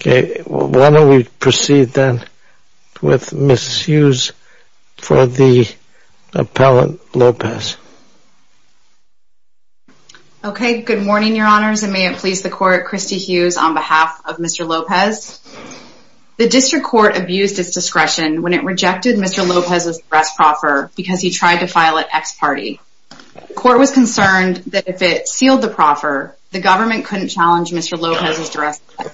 Okay, why don't we proceed then with Mrs. Hughes for the appellant, Lopez. Okay, good morning your honors and may it please the court, Christy Hughes on behalf of Mr. Lopez. The district court abused its discretion when it rejected Mr. Lopez's arrest proffer because he tried to file it ex parte. The court was concerned that if it sealed the proffer, the government couldn't challenge Mr. Lopez's jurisdiction,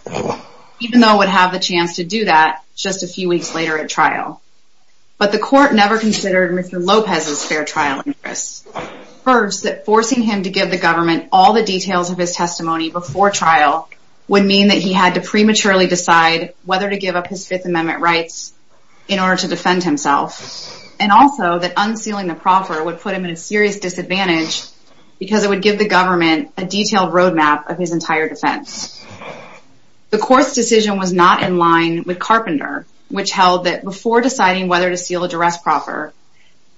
even though it would have the chance to do that just a few weeks later at trial. But the court never considered Mr. Lopez's fair trial interests. First, that forcing him to give the government all the details of his testimony before trial would mean that he had to prematurely decide whether to give up his Fifth Amendment rights in order to defend himself. And also that unsealing the proffer would put him in a serious disadvantage because it would give the government a detailed roadmap of his entire defense. The court's decision was not in line with Carpenter, which held that before deciding whether to seal a duress proffer,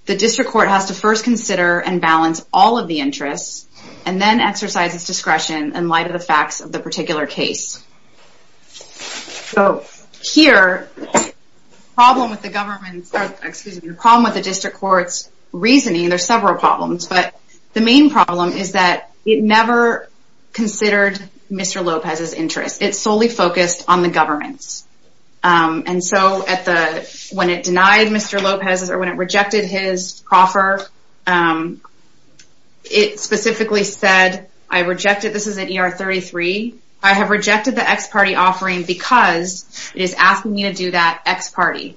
the district court has to first consider and balance all of the interests and then exercise its discretion in light of the facts of the particular case. So here, the problem with the district court's reasoning, there are several problems, but the main problem is that it never considered Mr. Lopez's interests. It solely focused on the government's. And so when it denied Mr. Lopez's, or when it rejected his proffer, it specifically said, I rejected, this is at ER 33, I have rejected the ex-party offering because it is asking me to do that ex-party.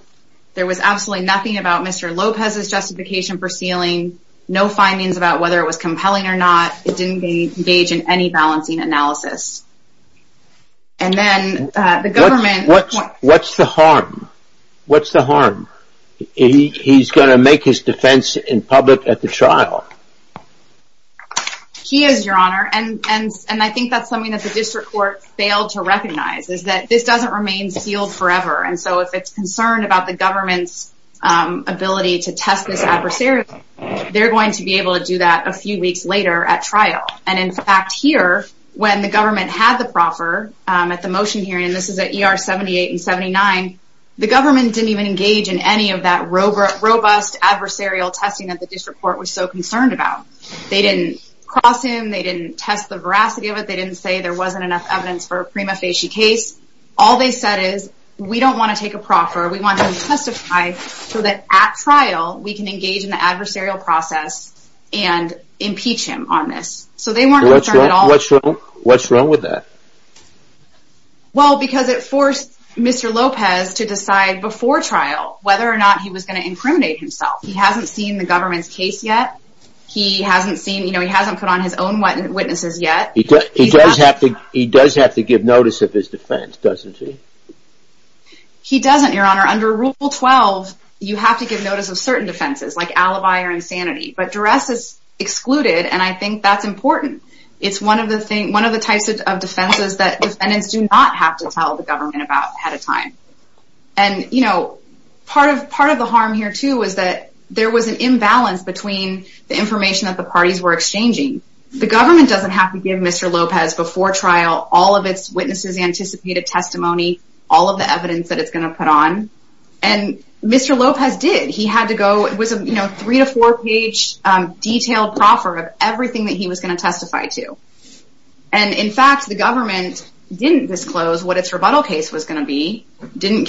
There was absolutely nothing about Mr. Lopez's justification for sealing, no findings about whether it was compelling or not, it didn't engage in any balancing analysis. And then the government... What's the harm? What's the harm? He's going to make his defense in public at the trial. He is, Your Honor, and I think that's something that the district court failed to recognize, is that this doesn't remain sealed forever, and so if it's concerned about the government's ability to test this adversarially, they're going to be able to do that a few weeks later at trial. And in fact, here, when the government had the proffer at the motion hearing, and this is at ER 78 and 79, the government didn't even engage in any of that robust adversarial testing that the district court was so concerned about. They didn't cross him, they didn't test the veracity of it, they didn't say there wasn't enough evidence for a prima facie case. All they said is, we don't want to take a proffer, we want him to testify so that at trial we can engage in the adversarial process and impeach him on this. So they weren't concerned at all. What's wrong with that? Well, because it forced Mr. Lopez to decide before trial whether or not he was going to incriminate himself. He hasn't seen the government's case yet, he hasn't put on his own witnesses yet. He does have to give notice of his defense, doesn't he? He doesn't, Your Honor. Under Rule 12, you have to give notice of certain defenses, like alibi or insanity. But duress is excluded, and I think that's important. It's one of the types of defenses that defendants do not have to tell the government about ahead of time. And, you know, part of the harm here, too, is that there was an imbalance between the information that the parties were exchanging. The government doesn't have to give Mr. Lopez before trial all of its witnesses' anticipated testimony, all of the evidence that it's going to put on. And Mr. Lopez did. It was a three- to four-page detailed proffer of everything that he was going to testify to. And, in fact, the government didn't disclose what its rebuttal case was going to be, didn't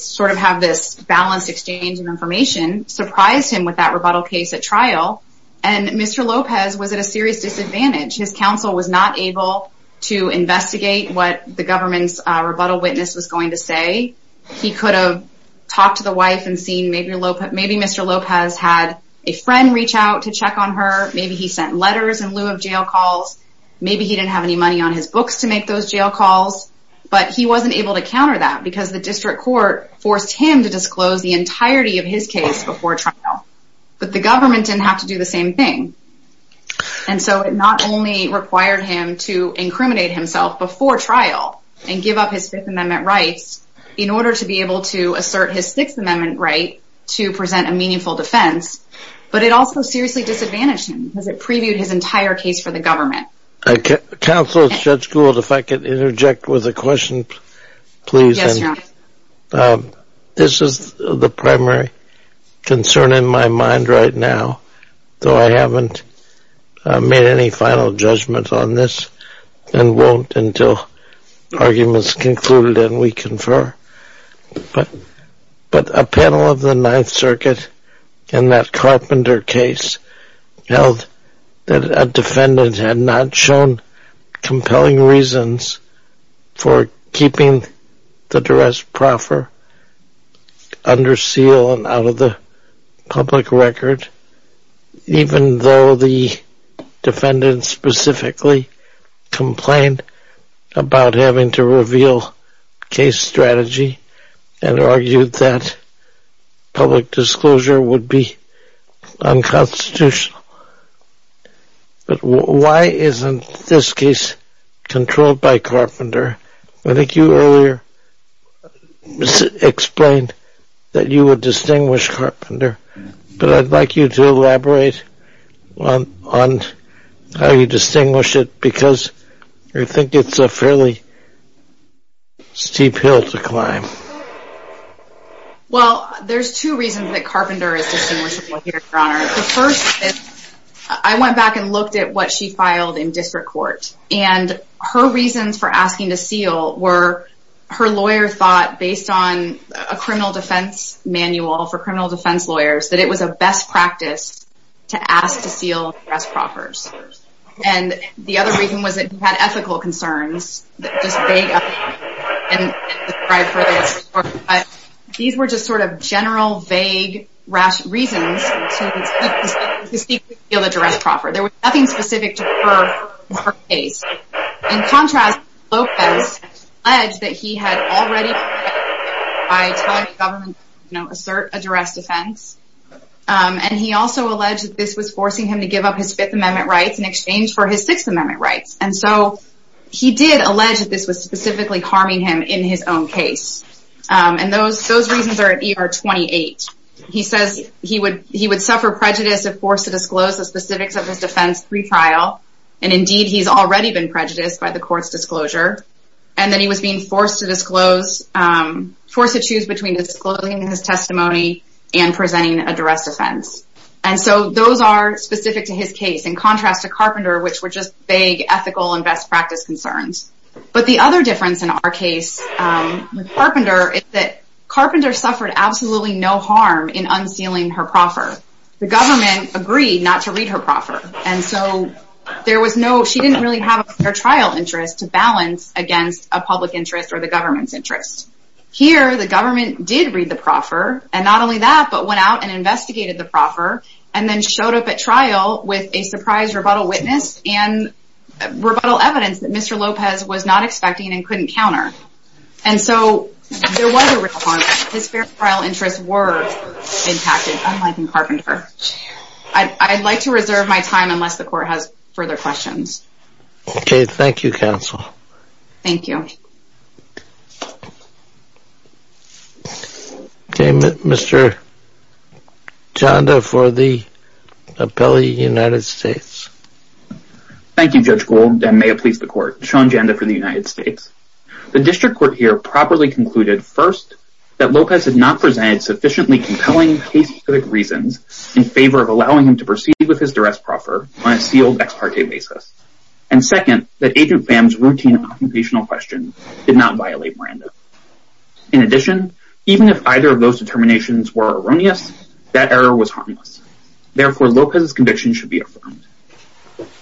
sort of have this balanced exchange of information, surprised him with that rebuttal case at trial, and Mr. Lopez was at a serious disadvantage. His counsel was not able to investigate what the government's rebuttal witness was going to say. He could have talked to the wife and seen, maybe Mr. Lopez had a friend reach out to check on her, maybe he sent letters in lieu of jail calls, maybe he didn't have any money on his books to make those jail calls, but he wasn't able to counter that because the district court forced him to disclose the entirety of his case before trial. But the government didn't have to do the same thing. And so it not only required him to incriminate himself before trial and give up his Fifth Amendment rights in order to be able to assert his Sixth Amendment right to present a meaningful defense, but it also seriously disadvantaged him because it previewed his entire case for the government. Counsel Judge Gould, if I could interject with a question, please. Yes, Your Honor. This is the primary concern in my mind right now, though I haven't made any final judgment on this and won't until the argument is concluded and we confer. But a panel of the Ninth Circuit in that Carpenter case held that a defendant had not shown compelling reasons for keeping the duress proffer under seal and out of the public record, even though the defendant specifically complained about having to reveal case strategy and argued that public disclosure would be unconstitutional. But why isn't this case controlled by Carpenter? I think you earlier explained that you would distinguish Carpenter, but I'd like you to elaborate on how you distinguish it because I think it's a fairly steep hill to climb. Well, there's two reasons that Carpenter is distinguishable here, Your Honor. The first is I went back and looked at what she filed in district court, and her reasons for asking to seal were her lawyer thought, based on a criminal defense manual for criminal defense lawyers, that it was a best practice to ask to seal duress proffers. And the other reason was that she had ethical concerns. These were just sort of general, vague reasons to secretly seal a duress proffer. There was nothing specific to her case. In contrast, Lopez alleged that he had already been convicted by telling the government to assert a duress defense. And he also alleged that this was forcing him to give up his Fifth Amendment rights in exchange for his Sixth Amendment rights. And so he did allege that this was specifically harming him in his own case. And those reasons are at ER 28. He says he would suffer prejudice if forced to disclose the specifics of his defense pre-trial, and indeed he's already been prejudiced by the court's disclosure. And then he was being forced to choose between disclosing his testimony and presenting a duress defense. And so those are specific to his case, in contrast to Carpenter, which were just vague ethical and best practice concerns. But the other difference in our case with Carpenter is that Carpenter suffered absolutely no harm in unsealing her proffer. The government agreed not to read her proffer. And so she didn't really have a fair trial interest to balance against a public interest or the government's interest. Here, the government did read the proffer. And not only that, but went out and investigated the proffer, and then showed up at trial with a surprise rebuttal witness and rebuttal evidence that Mr. Lopez was not expecting and couldn't counter. And so there was a real harm. His fair trial interests were impacted, unlike in Carpenter. I'd like to reserve my time unless the court has further questions. Okay, thank you, counsel. Thank you. Okay, Mr. Janda for the appellee, United States. Thank you, Judge Gould, and may it please the court. Sean Janda for the United States. The district court here properly concluded, first, that Lopez had not presented sufficiently compelling case-specific reasons in favor of allowing him to proceed with his duress proffer on a sealed ex parte basis. And second, that Agent Pham's routine occupational questions did not violate Miranda. In addition, even if either of those determinations were erroneous, that error was harmless. Therefore, Lopez's conviction should be affirmed.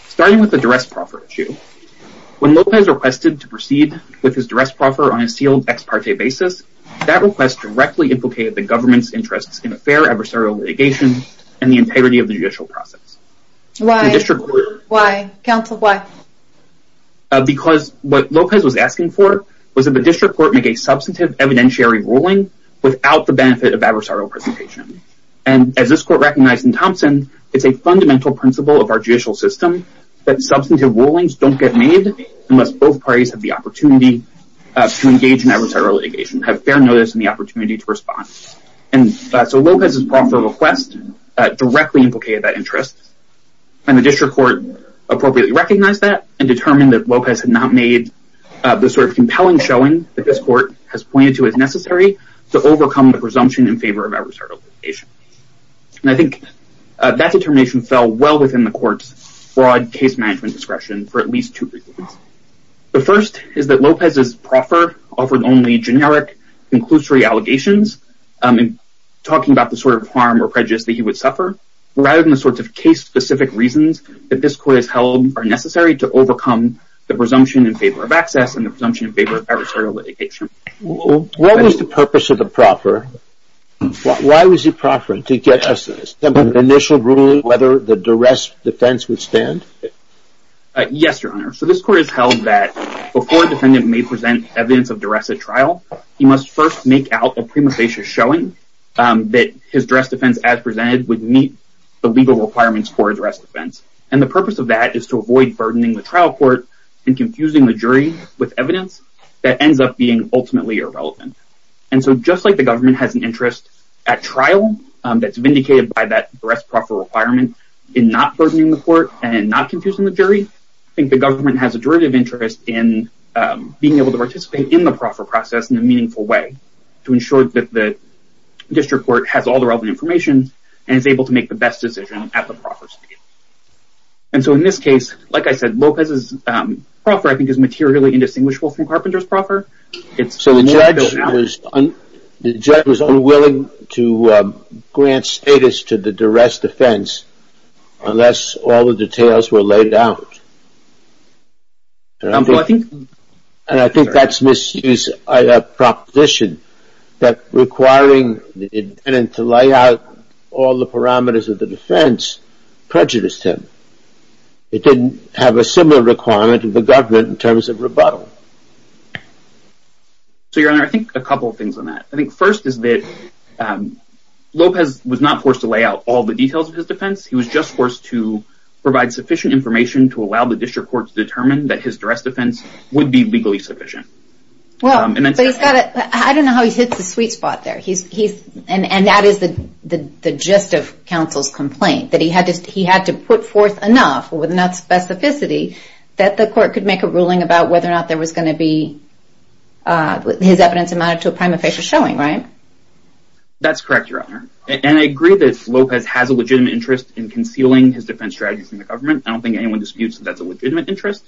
Starting with the duress proffer issue, when Lopez requested to proceed with his duress proffer on a sealed ex parte basis, that request directly implicated the government's interests in a fair adversarial litigation and the integrity of the judicial process. Why, counsel, why? Because what Lopez was asking for was that the district court make a substantive evidentiary ruling without the benefit of adversarial presentation. And as this court recognized in Thompson, it's a fundamental principle of our judicial system that substantive rulings don't get made unless both parties have the opportunity to engage in adversarial litigation, have fair notice and the opportunity to respond. And so Lopez's proffer request directly implicated that interest. And the district court appropriately recognized that and determined that Lopez had not made the sort of compelling showing that this court has pointed to as necessary to overcome the presumption in favor of adversarial litigation. And I think that determination fell well within the court's broad case management discretion for at least two reasons. The first is that Lopez's proffer offered only generic conclusory allegations, talking about the sort of harm or prejudice that he would suffer, rather than the sorts of case specific reasons that this court has held are necessary to overcome the presumption in favor of access and the presumption in favor of adversarial litigation. What was the purpose of the proffer? Why was he proffering? To get an initial ruling whether the duress defense would stand? Yes, Your Honor. So this court has held that before a defendant may present evidence of duress at trial, he must first make out a prima facie showing that his duress defense as presented would meet the legal requirements for a duress defense. And the purpose of that is to avoid burdening the trial court and confusing the jury with evidence that ends up being ultimately irrelevant. And so just like the government has an interest at trial that's vindicated by that duress proffer requirement in not burdening the court and not confusing the jury, I think the government has a derivative interest in being able to participate in the proffer process in a meaningful way to ensure that the district court has all the relevant information and is able to make the best decision at the proffer stage. And so in this case, like I said, Lopez's proffer I think is materially indistinguishable from Carpenter's proffer. So the judge was unwilling to grant status to the duress defense unless all the details were laid out. And I think that's misused proposition that requiring the defendant to lay out all the parameters of the defense prejudiced him. It didn't have a similar requirement to the government in terms of rebuttal. So your honor, I think a couple of things on that. I think first is that Lopez was not forced to lay out all the details of his defense. He was just forced to provide sufficient information to allow the district court to determine that his duress defense would be legally sufficient. I don't know how he hits the sweet spot there. And that is the gist of counsel's complaint. That he had to put forth enough with enough specificity that the court could make a ruling about whether or not there was going to be his evidence amounted to a prima facie showing, right? That's correct, your honor. And I agree that Lopez has a legitimate interest in concealing his defense strategy from the government. I don't think anyone disputes that that's a legitimate interest.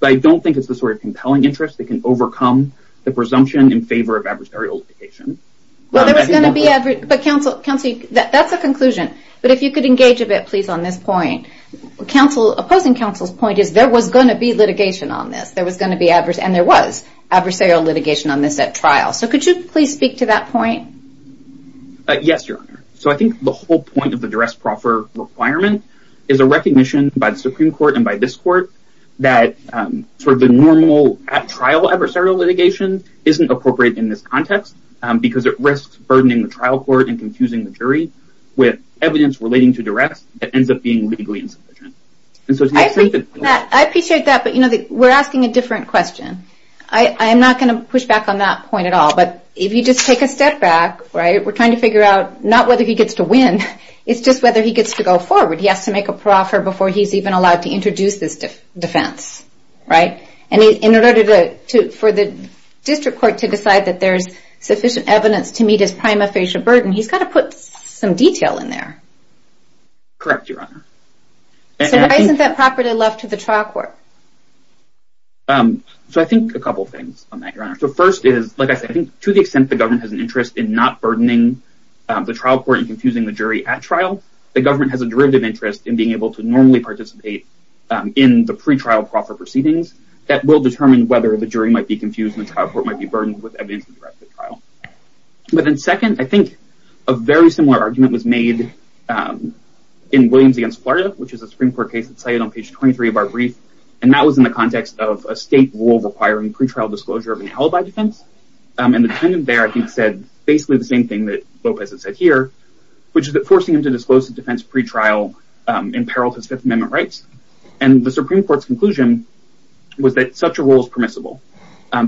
But I don't think it's the sort of compelling interest that can overcome the presumption in favor of adversarial litigation. But counsel, that's a conclusion. But if you could engage a bit, please, on this point. Opposing counsel's point is there was going to be litigation on this. And there was adversarial litigation on this at trial. So could you please speak to that point? Yes, your honor. So I think the whole point of the duress proffer requirement is a recognition by the Supreme Court and by this court that sort of the normal at trial adversarial litigation isn't appropriate in this context. Because it risks burdening the trial court and confusing the jury with evidence relating to duress that ends up being legally insufficient. I appreciate that. But, you know, we're asking a different question. I'm not going to push back on that point at all. But if you just take a step back, we're trying to figure out not whether he gets to win. It's just whether he gets to go forward. He has to make a proffer before he's even allowed to introduce this defense. And in order for the district court to decide that there's sufficient evidence to meet his prima facie burden, he's got to put some detail in there. Correct, your honor. So why isn't that property left to the trial court? So I think a couple of things on that, your honor. So first is, like I said, I think to the extent the government has an interest in not burdening the trial court and confusing the jury at trial, the government has a derivative interest in being able to normally participate in the pretrial proffer proceedings that will determine whether the jury might be confused and the trial court might be burdened with evidence to direct the trial. But then second, I think a very similar argument was made in Williams against Florida, which is a Supreme Court case that's cited on page 23 of our brief. And that was in the context of a state rule requiring pretrial disclosure of an alibi defense. And the defendant there, I think, said basically the same thing that Lopez had said here, which is that forcing him to disclose the defense pretrial imperiled his Fifth Amendment rights. And the Supreme Court's conclusion was that such a rule is permissible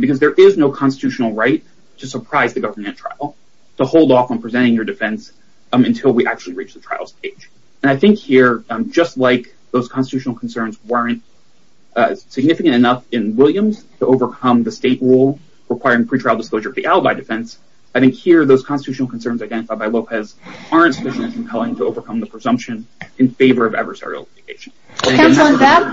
because there is no constitutional right to surprise the government at trial, to hold off on presenting your defense until we actually reach the trial stage. And I think here, just like those constitutional concerns weren't significant enough in Williams to overcome the state rule requiring pretrial disclosure of the alibi defense, I think here those constitutional concerns identified by Lopez aren't sufficiently compelling to overcome the presumption in favor of adversarial litigation. Counsel, on that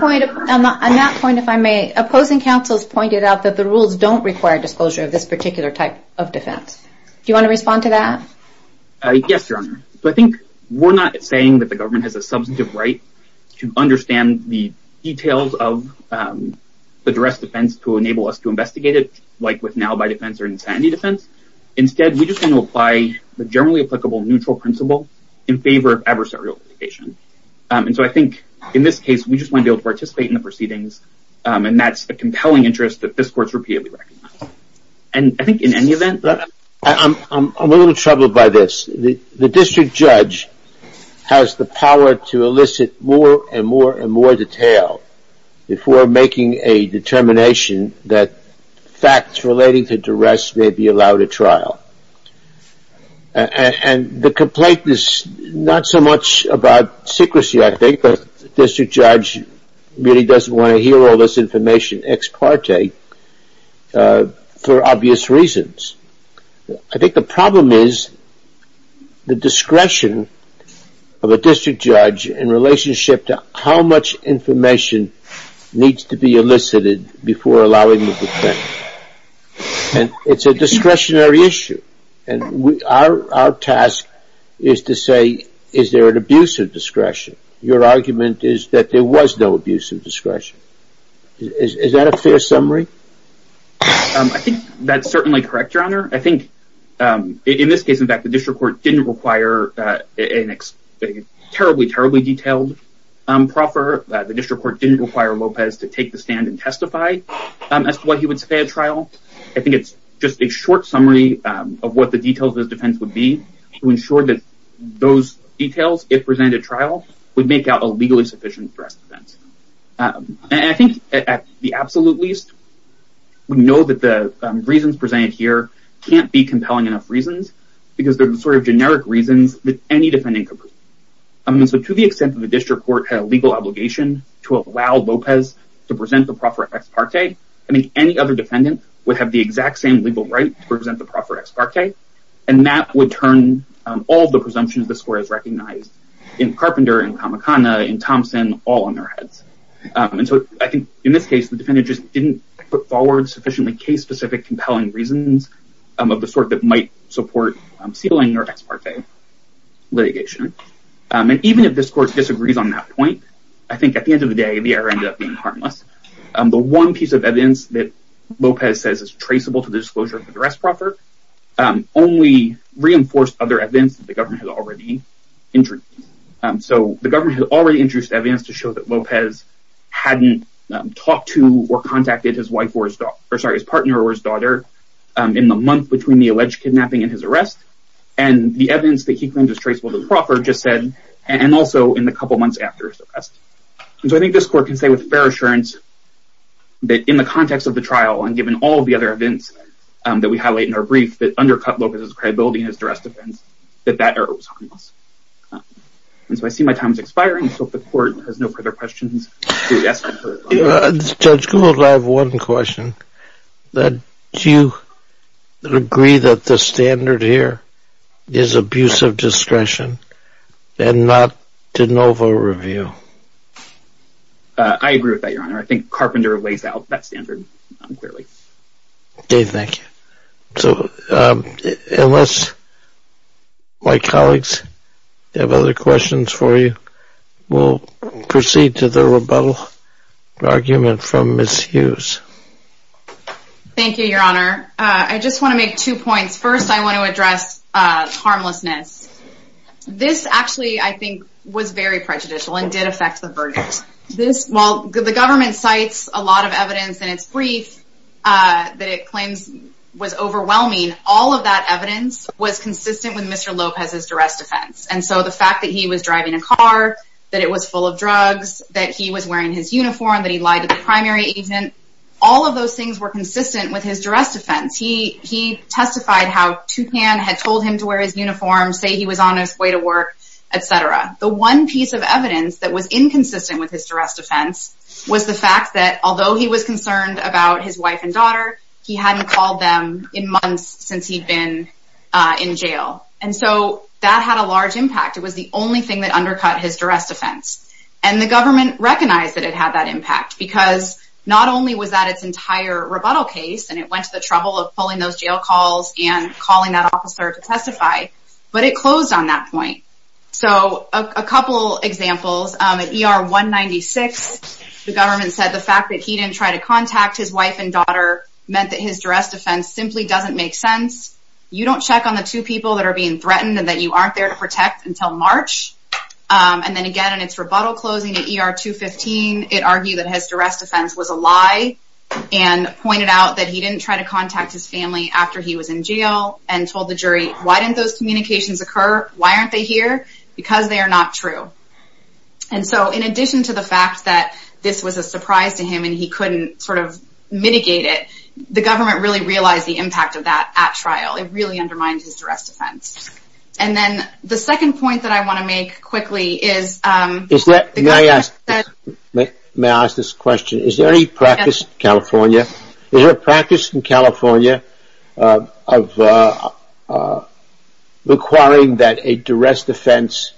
point, if I may, opposing counsels pointed out that the rules don't require disclosure of this particular type of defense. Do you want to respond to that? Yes, Your Honor. I think we're not saying that the government has a substantive right to understand the details of the duress defense to enable us to investigate it, like with an alibi defense or insanity defense. Instead, we just want to apply the generally applicable neutral principle in favor of adversarial litigation. And so I think in this case, we just want to be able to participate in the proceedings. And that's a compelling interest that this court's repeatedly recognized. And I think in any event, I'm a little troubled by this. The district judge has the power to elicit more and more and more detail before making a determination that facts relating to duress may be allowed at trial. And the complaint is not so much about secrecy, I think, but the district judge really doesn't want to hear all this information ex parte for obvious reasons. I think the problem is the discretion of a district judge in relationship to how much information needs to be elicited before allowing the defense. And it's a discretionary issue. And our task is to say, is there an abuse of discretion? Your argument is that there was no abuse of discretion. Is that a fair summary? I think that's certainly correct, Your Honor. I think in this case, in fact, the district court didn't require a terribly, terribly detailed proffer. The district court didn't require Lopez to take the stand and testify as to what he would say at trial. I think it's just a short summary of what the details of his defense would be to ensure that those details, if presented at trial, would make out a legally sufficient duress defense. And I think at the absolute least, we know that the reasons presented here can't be compelling enough reasons because they're the sort of generic reasons that any defendant could be. I mean, so to the extent that the district court had a legal obligation to allow Lopez to present the proffer ex parte, I mean, any other defendant would have the exact same legal right to present the proffer ex parte. And that would turn all the presumptions this court has recognized in Carpenter, in Kamakana, in Thompson, all on their heads. And so I think in this case, the defendant just didn't put forward sufficiently case-specific compelling reasons of the sort that might support ceiling or ex parte litigation. And even if this court disagrees on that point, I think at the end of the day, the error ended up being harmless. The one piece of evidence that Lopez says is traceable to the disclosure of the duress proffer only reinforced other evidence that the government has already introduced. So the government had already introduced evidence to show that Lopez hadn't talked to or contacted his partner or his daughter in the month between the alleged kidnapping and his arrest. And the evidence that he claimed was traceable to the proffer just said, and also in the couple months after his arrest. And so I think this court can say with fair assurance that in the context of the trial, and given all the other events that we highlight in our brief that undercut Lopez's credibility in his duress defense, that that error was harmless. And so I see my time is expiring, so if the court has no further questions, do we ask for further time? Judge Gould, I have one question. Do you agree that the standard here is abuse of discretion and not de novo review? I agree with that, Your Honor. I think Carpenter lays out that standard clearly. Dave, thank you. So unless my colleagues have other questions for you, we'll proceed to the rebuttal argument from Ms. Hughes. Thank you, Your Honor. I just want to make two points. First, I want to address harmlessness. This actually, I think, was very prejudicial and did affect the verdict. While the government cites a lot of evidence in its brief that it claims was overwhelming, all of that evidence was consistent with Mr. Lopez's duress defense. And so the fact that he was driving a car, that it was full of drugs, that he was wearing his uniform, that he lied to the primary agent, all of those things were consistent with his duress defense. He testified how Toucan had told him to wear his uniform, say he was on his way to work, etc. The one piece of evidence that was inconsistent with his duress defense was the fact that although he was concerned about his wife and daughter, he hadn't called them in months since he'd been in jail. And so that had a large impact. It was the only thing that undercut his duress defense. And the government recognized that it had that impact because not only was that its entire rebuttal case, and it went to the trouble of pulling those jail calls and calling that officer to testify, but it closed on that point. So a couple examples. In ER 196, the government said the fact that he didn't try to contact his wife and daughter meant that his duress defense simply doesn't make sense. You don't check on the two people that are being threatened and that you aren't there to protect until March. And then again, in its rebuttal closing at ER 215, it argued that his duress defense was a lie and pointed out that he didn't try to contact his family after he was in jail and told the jury, why didn't those communications occur? Why aren't they here? Because they are not true. And so in addition to the fact that this was a surprise to him and he couldn't sort of mitigate it, the government really realized the impact of that at trial. It really undermines his duress defense. And then the second point that I want to make quickly is... May I ask this question? Is there any practice in California of requiring that a duress defense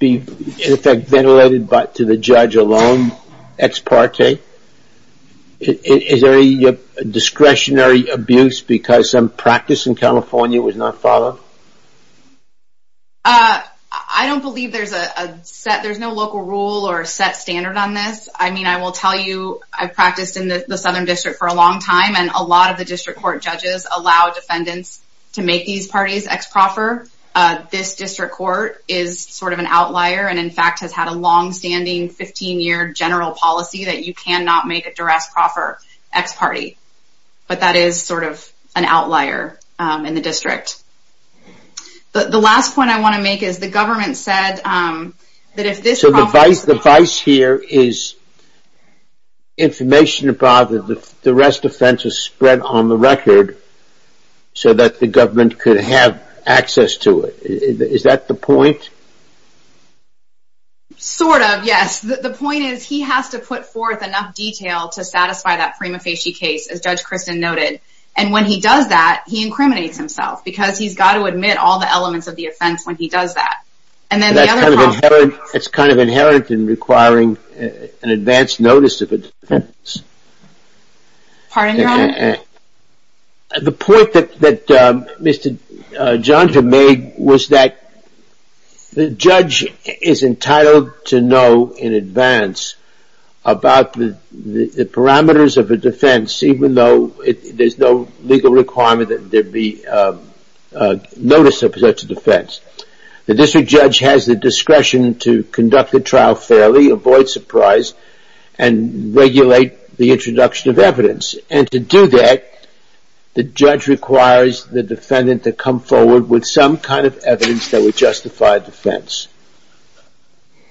be in effect ventilated to the judge alone, ex parte? Is there a discretionary abuse because some practice in California was not followed? I don't believe there's a set, there's no local rule or set standard on this. I mean, I will tell you, I've practiced in the Southern District for a long time, and a lot of the district court judges allow defendants to make these parties ex parte. This district court is sort of an outlier and in fact has had a long-standing 15-year general policy that you cannot make a duress proffer ex parte. But that is sort of an outlier in the district. The last point I want to make is the government said that if this... The vice here is information about the duress defense is spread on the record so that the government could have access to it. Is that the point? Sort of, yes. The point is he has to put forth enough detail to satisfy that prima facie case, as Judge Kristen noted. And when he does that, he incriminates himself because he's got to admit all the elements of the offense when he does that. It's kind of inherent in requiring an advance notice of a defense. Pardon, Your Honor? The point that Mr. Johnson made was that the judge is entitled to know in advance about the parameters of a defense, even though there's no legal requirement that there be a notice of such a defense. The district judge has the discretion to conduct the trial fairly, avoid surprise, and regulate the introduction of evidence. And to do that, the judge requires the defendant to come forward with some kind of evidence that would justify a defense.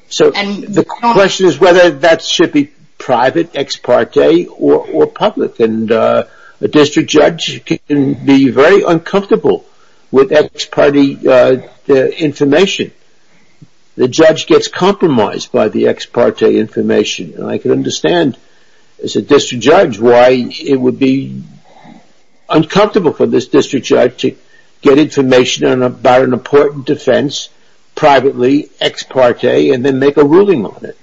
So the question is whether that should be private, ex parte, or public. A district judge can be very uncomfortable with ex parte information. The judge gets compromised by the ex parte information. I can understand, as a district judge, why it would be uncomfortable for this district judge to get information about an important defense privately, ex parte, and then make a ruling on it.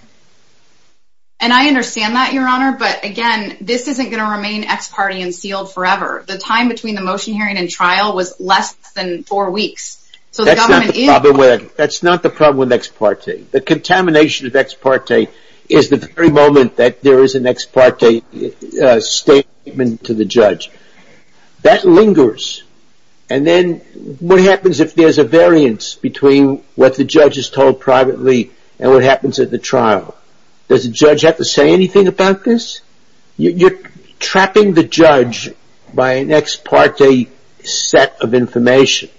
And I understand that, Your Honor, but again, this isn't going to remain ex parte and sealed forever. The time between the motion hearing and trial was less than four weeks. That's not the problem with ex parte. The contamination of ex parte is the very moment that there is an ex parte statement to the judge. That lingers. And then what happens if there's a variance between what the judge is told privately and what happens at the trial? Does the judge have to say anything about this? You're trapping the judge by an ex parte set of information.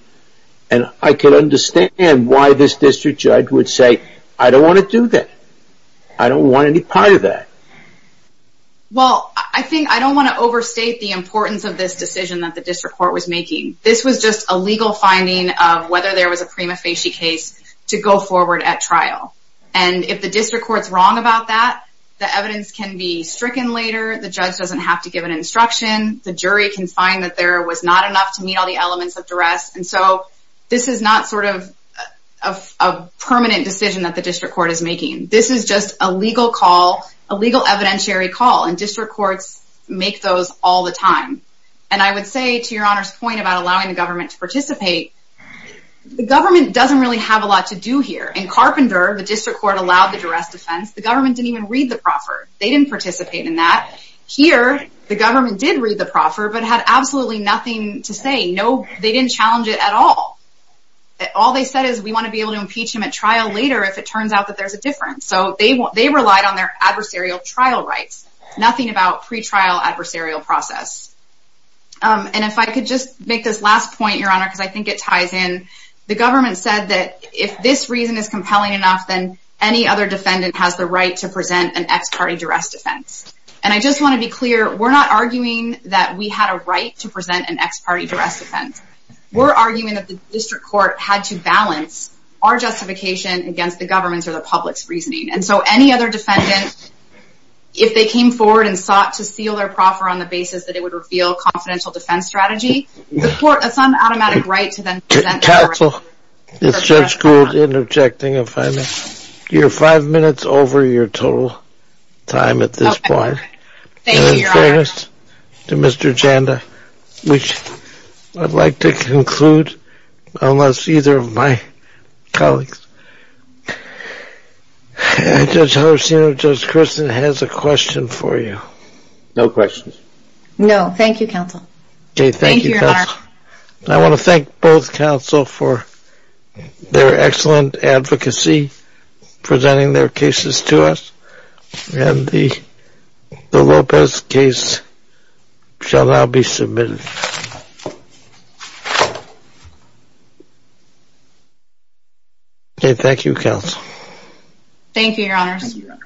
And I can understand why this district judge would say, I don't want to do that. I don't want any part of that. Well, I think I don't want to overstate the importance of this decision that the district court was making. This was just a legal finding of whether there was a prima facie case to go forward at trial. And if the district court's wrong about that, the evidence can be stricken later. The judge doesn't have to give an instruction. The jury can find that there was not enough to meet all the elements of duress. And so this is not sort of a permanent decision that the district court is making. This is just a legal call, a legal evidentiary call. And district courts make those all the time. And I would say, to your Honor's point about allowing the government to participate, the government doesn't really have a lot to do here. In Carpenter, the district court allowed the duress defense. The government didn't even read the proffer. They didn't participate in that. Here, the government did read the proffer but had absolutely nothing to say. They didn't challenge it at all. All they said is, we want to be able to impeach him at trial later if it turns out that there's a difference. So they relied on their adversarial trial rights. Nothing about pretrial adversarial process. And if I could just make this last point, Your Honor, because I think it ties in. The government said that if this reason is compelling enough, then any other defendant has the right to present an ex parte duress defense. And I just want to be clear, we're not arguing that we had a right to present an ex parte duress defense. We're arguing that the district court had to balance our justification against the government's or the public's reasoning. And so any other defendant, if they came forward and sought to seal their proffer on the basis that it would reveal confidential defense strategy, the court has some automatic right to then present their reasoning. Counsel, Judge Gould interjecting if I may. You're five minutes over your total time at this point. Thank you, Your Honor. In all fairness to Mr. Janda, which I'd like to conclude unless either of my colleagues. Judge Harcino, Judge Kirsten has a question for you. No questions. No, thank you, Counsel. Thank you, Counsel. I want to thank both counsel for their excellent advocacy presenting their cases to us. And the Lopez case shall now be submitted. Okay, thank you, Counsel. Thank you, Your Honors. Thank you, Your Honor.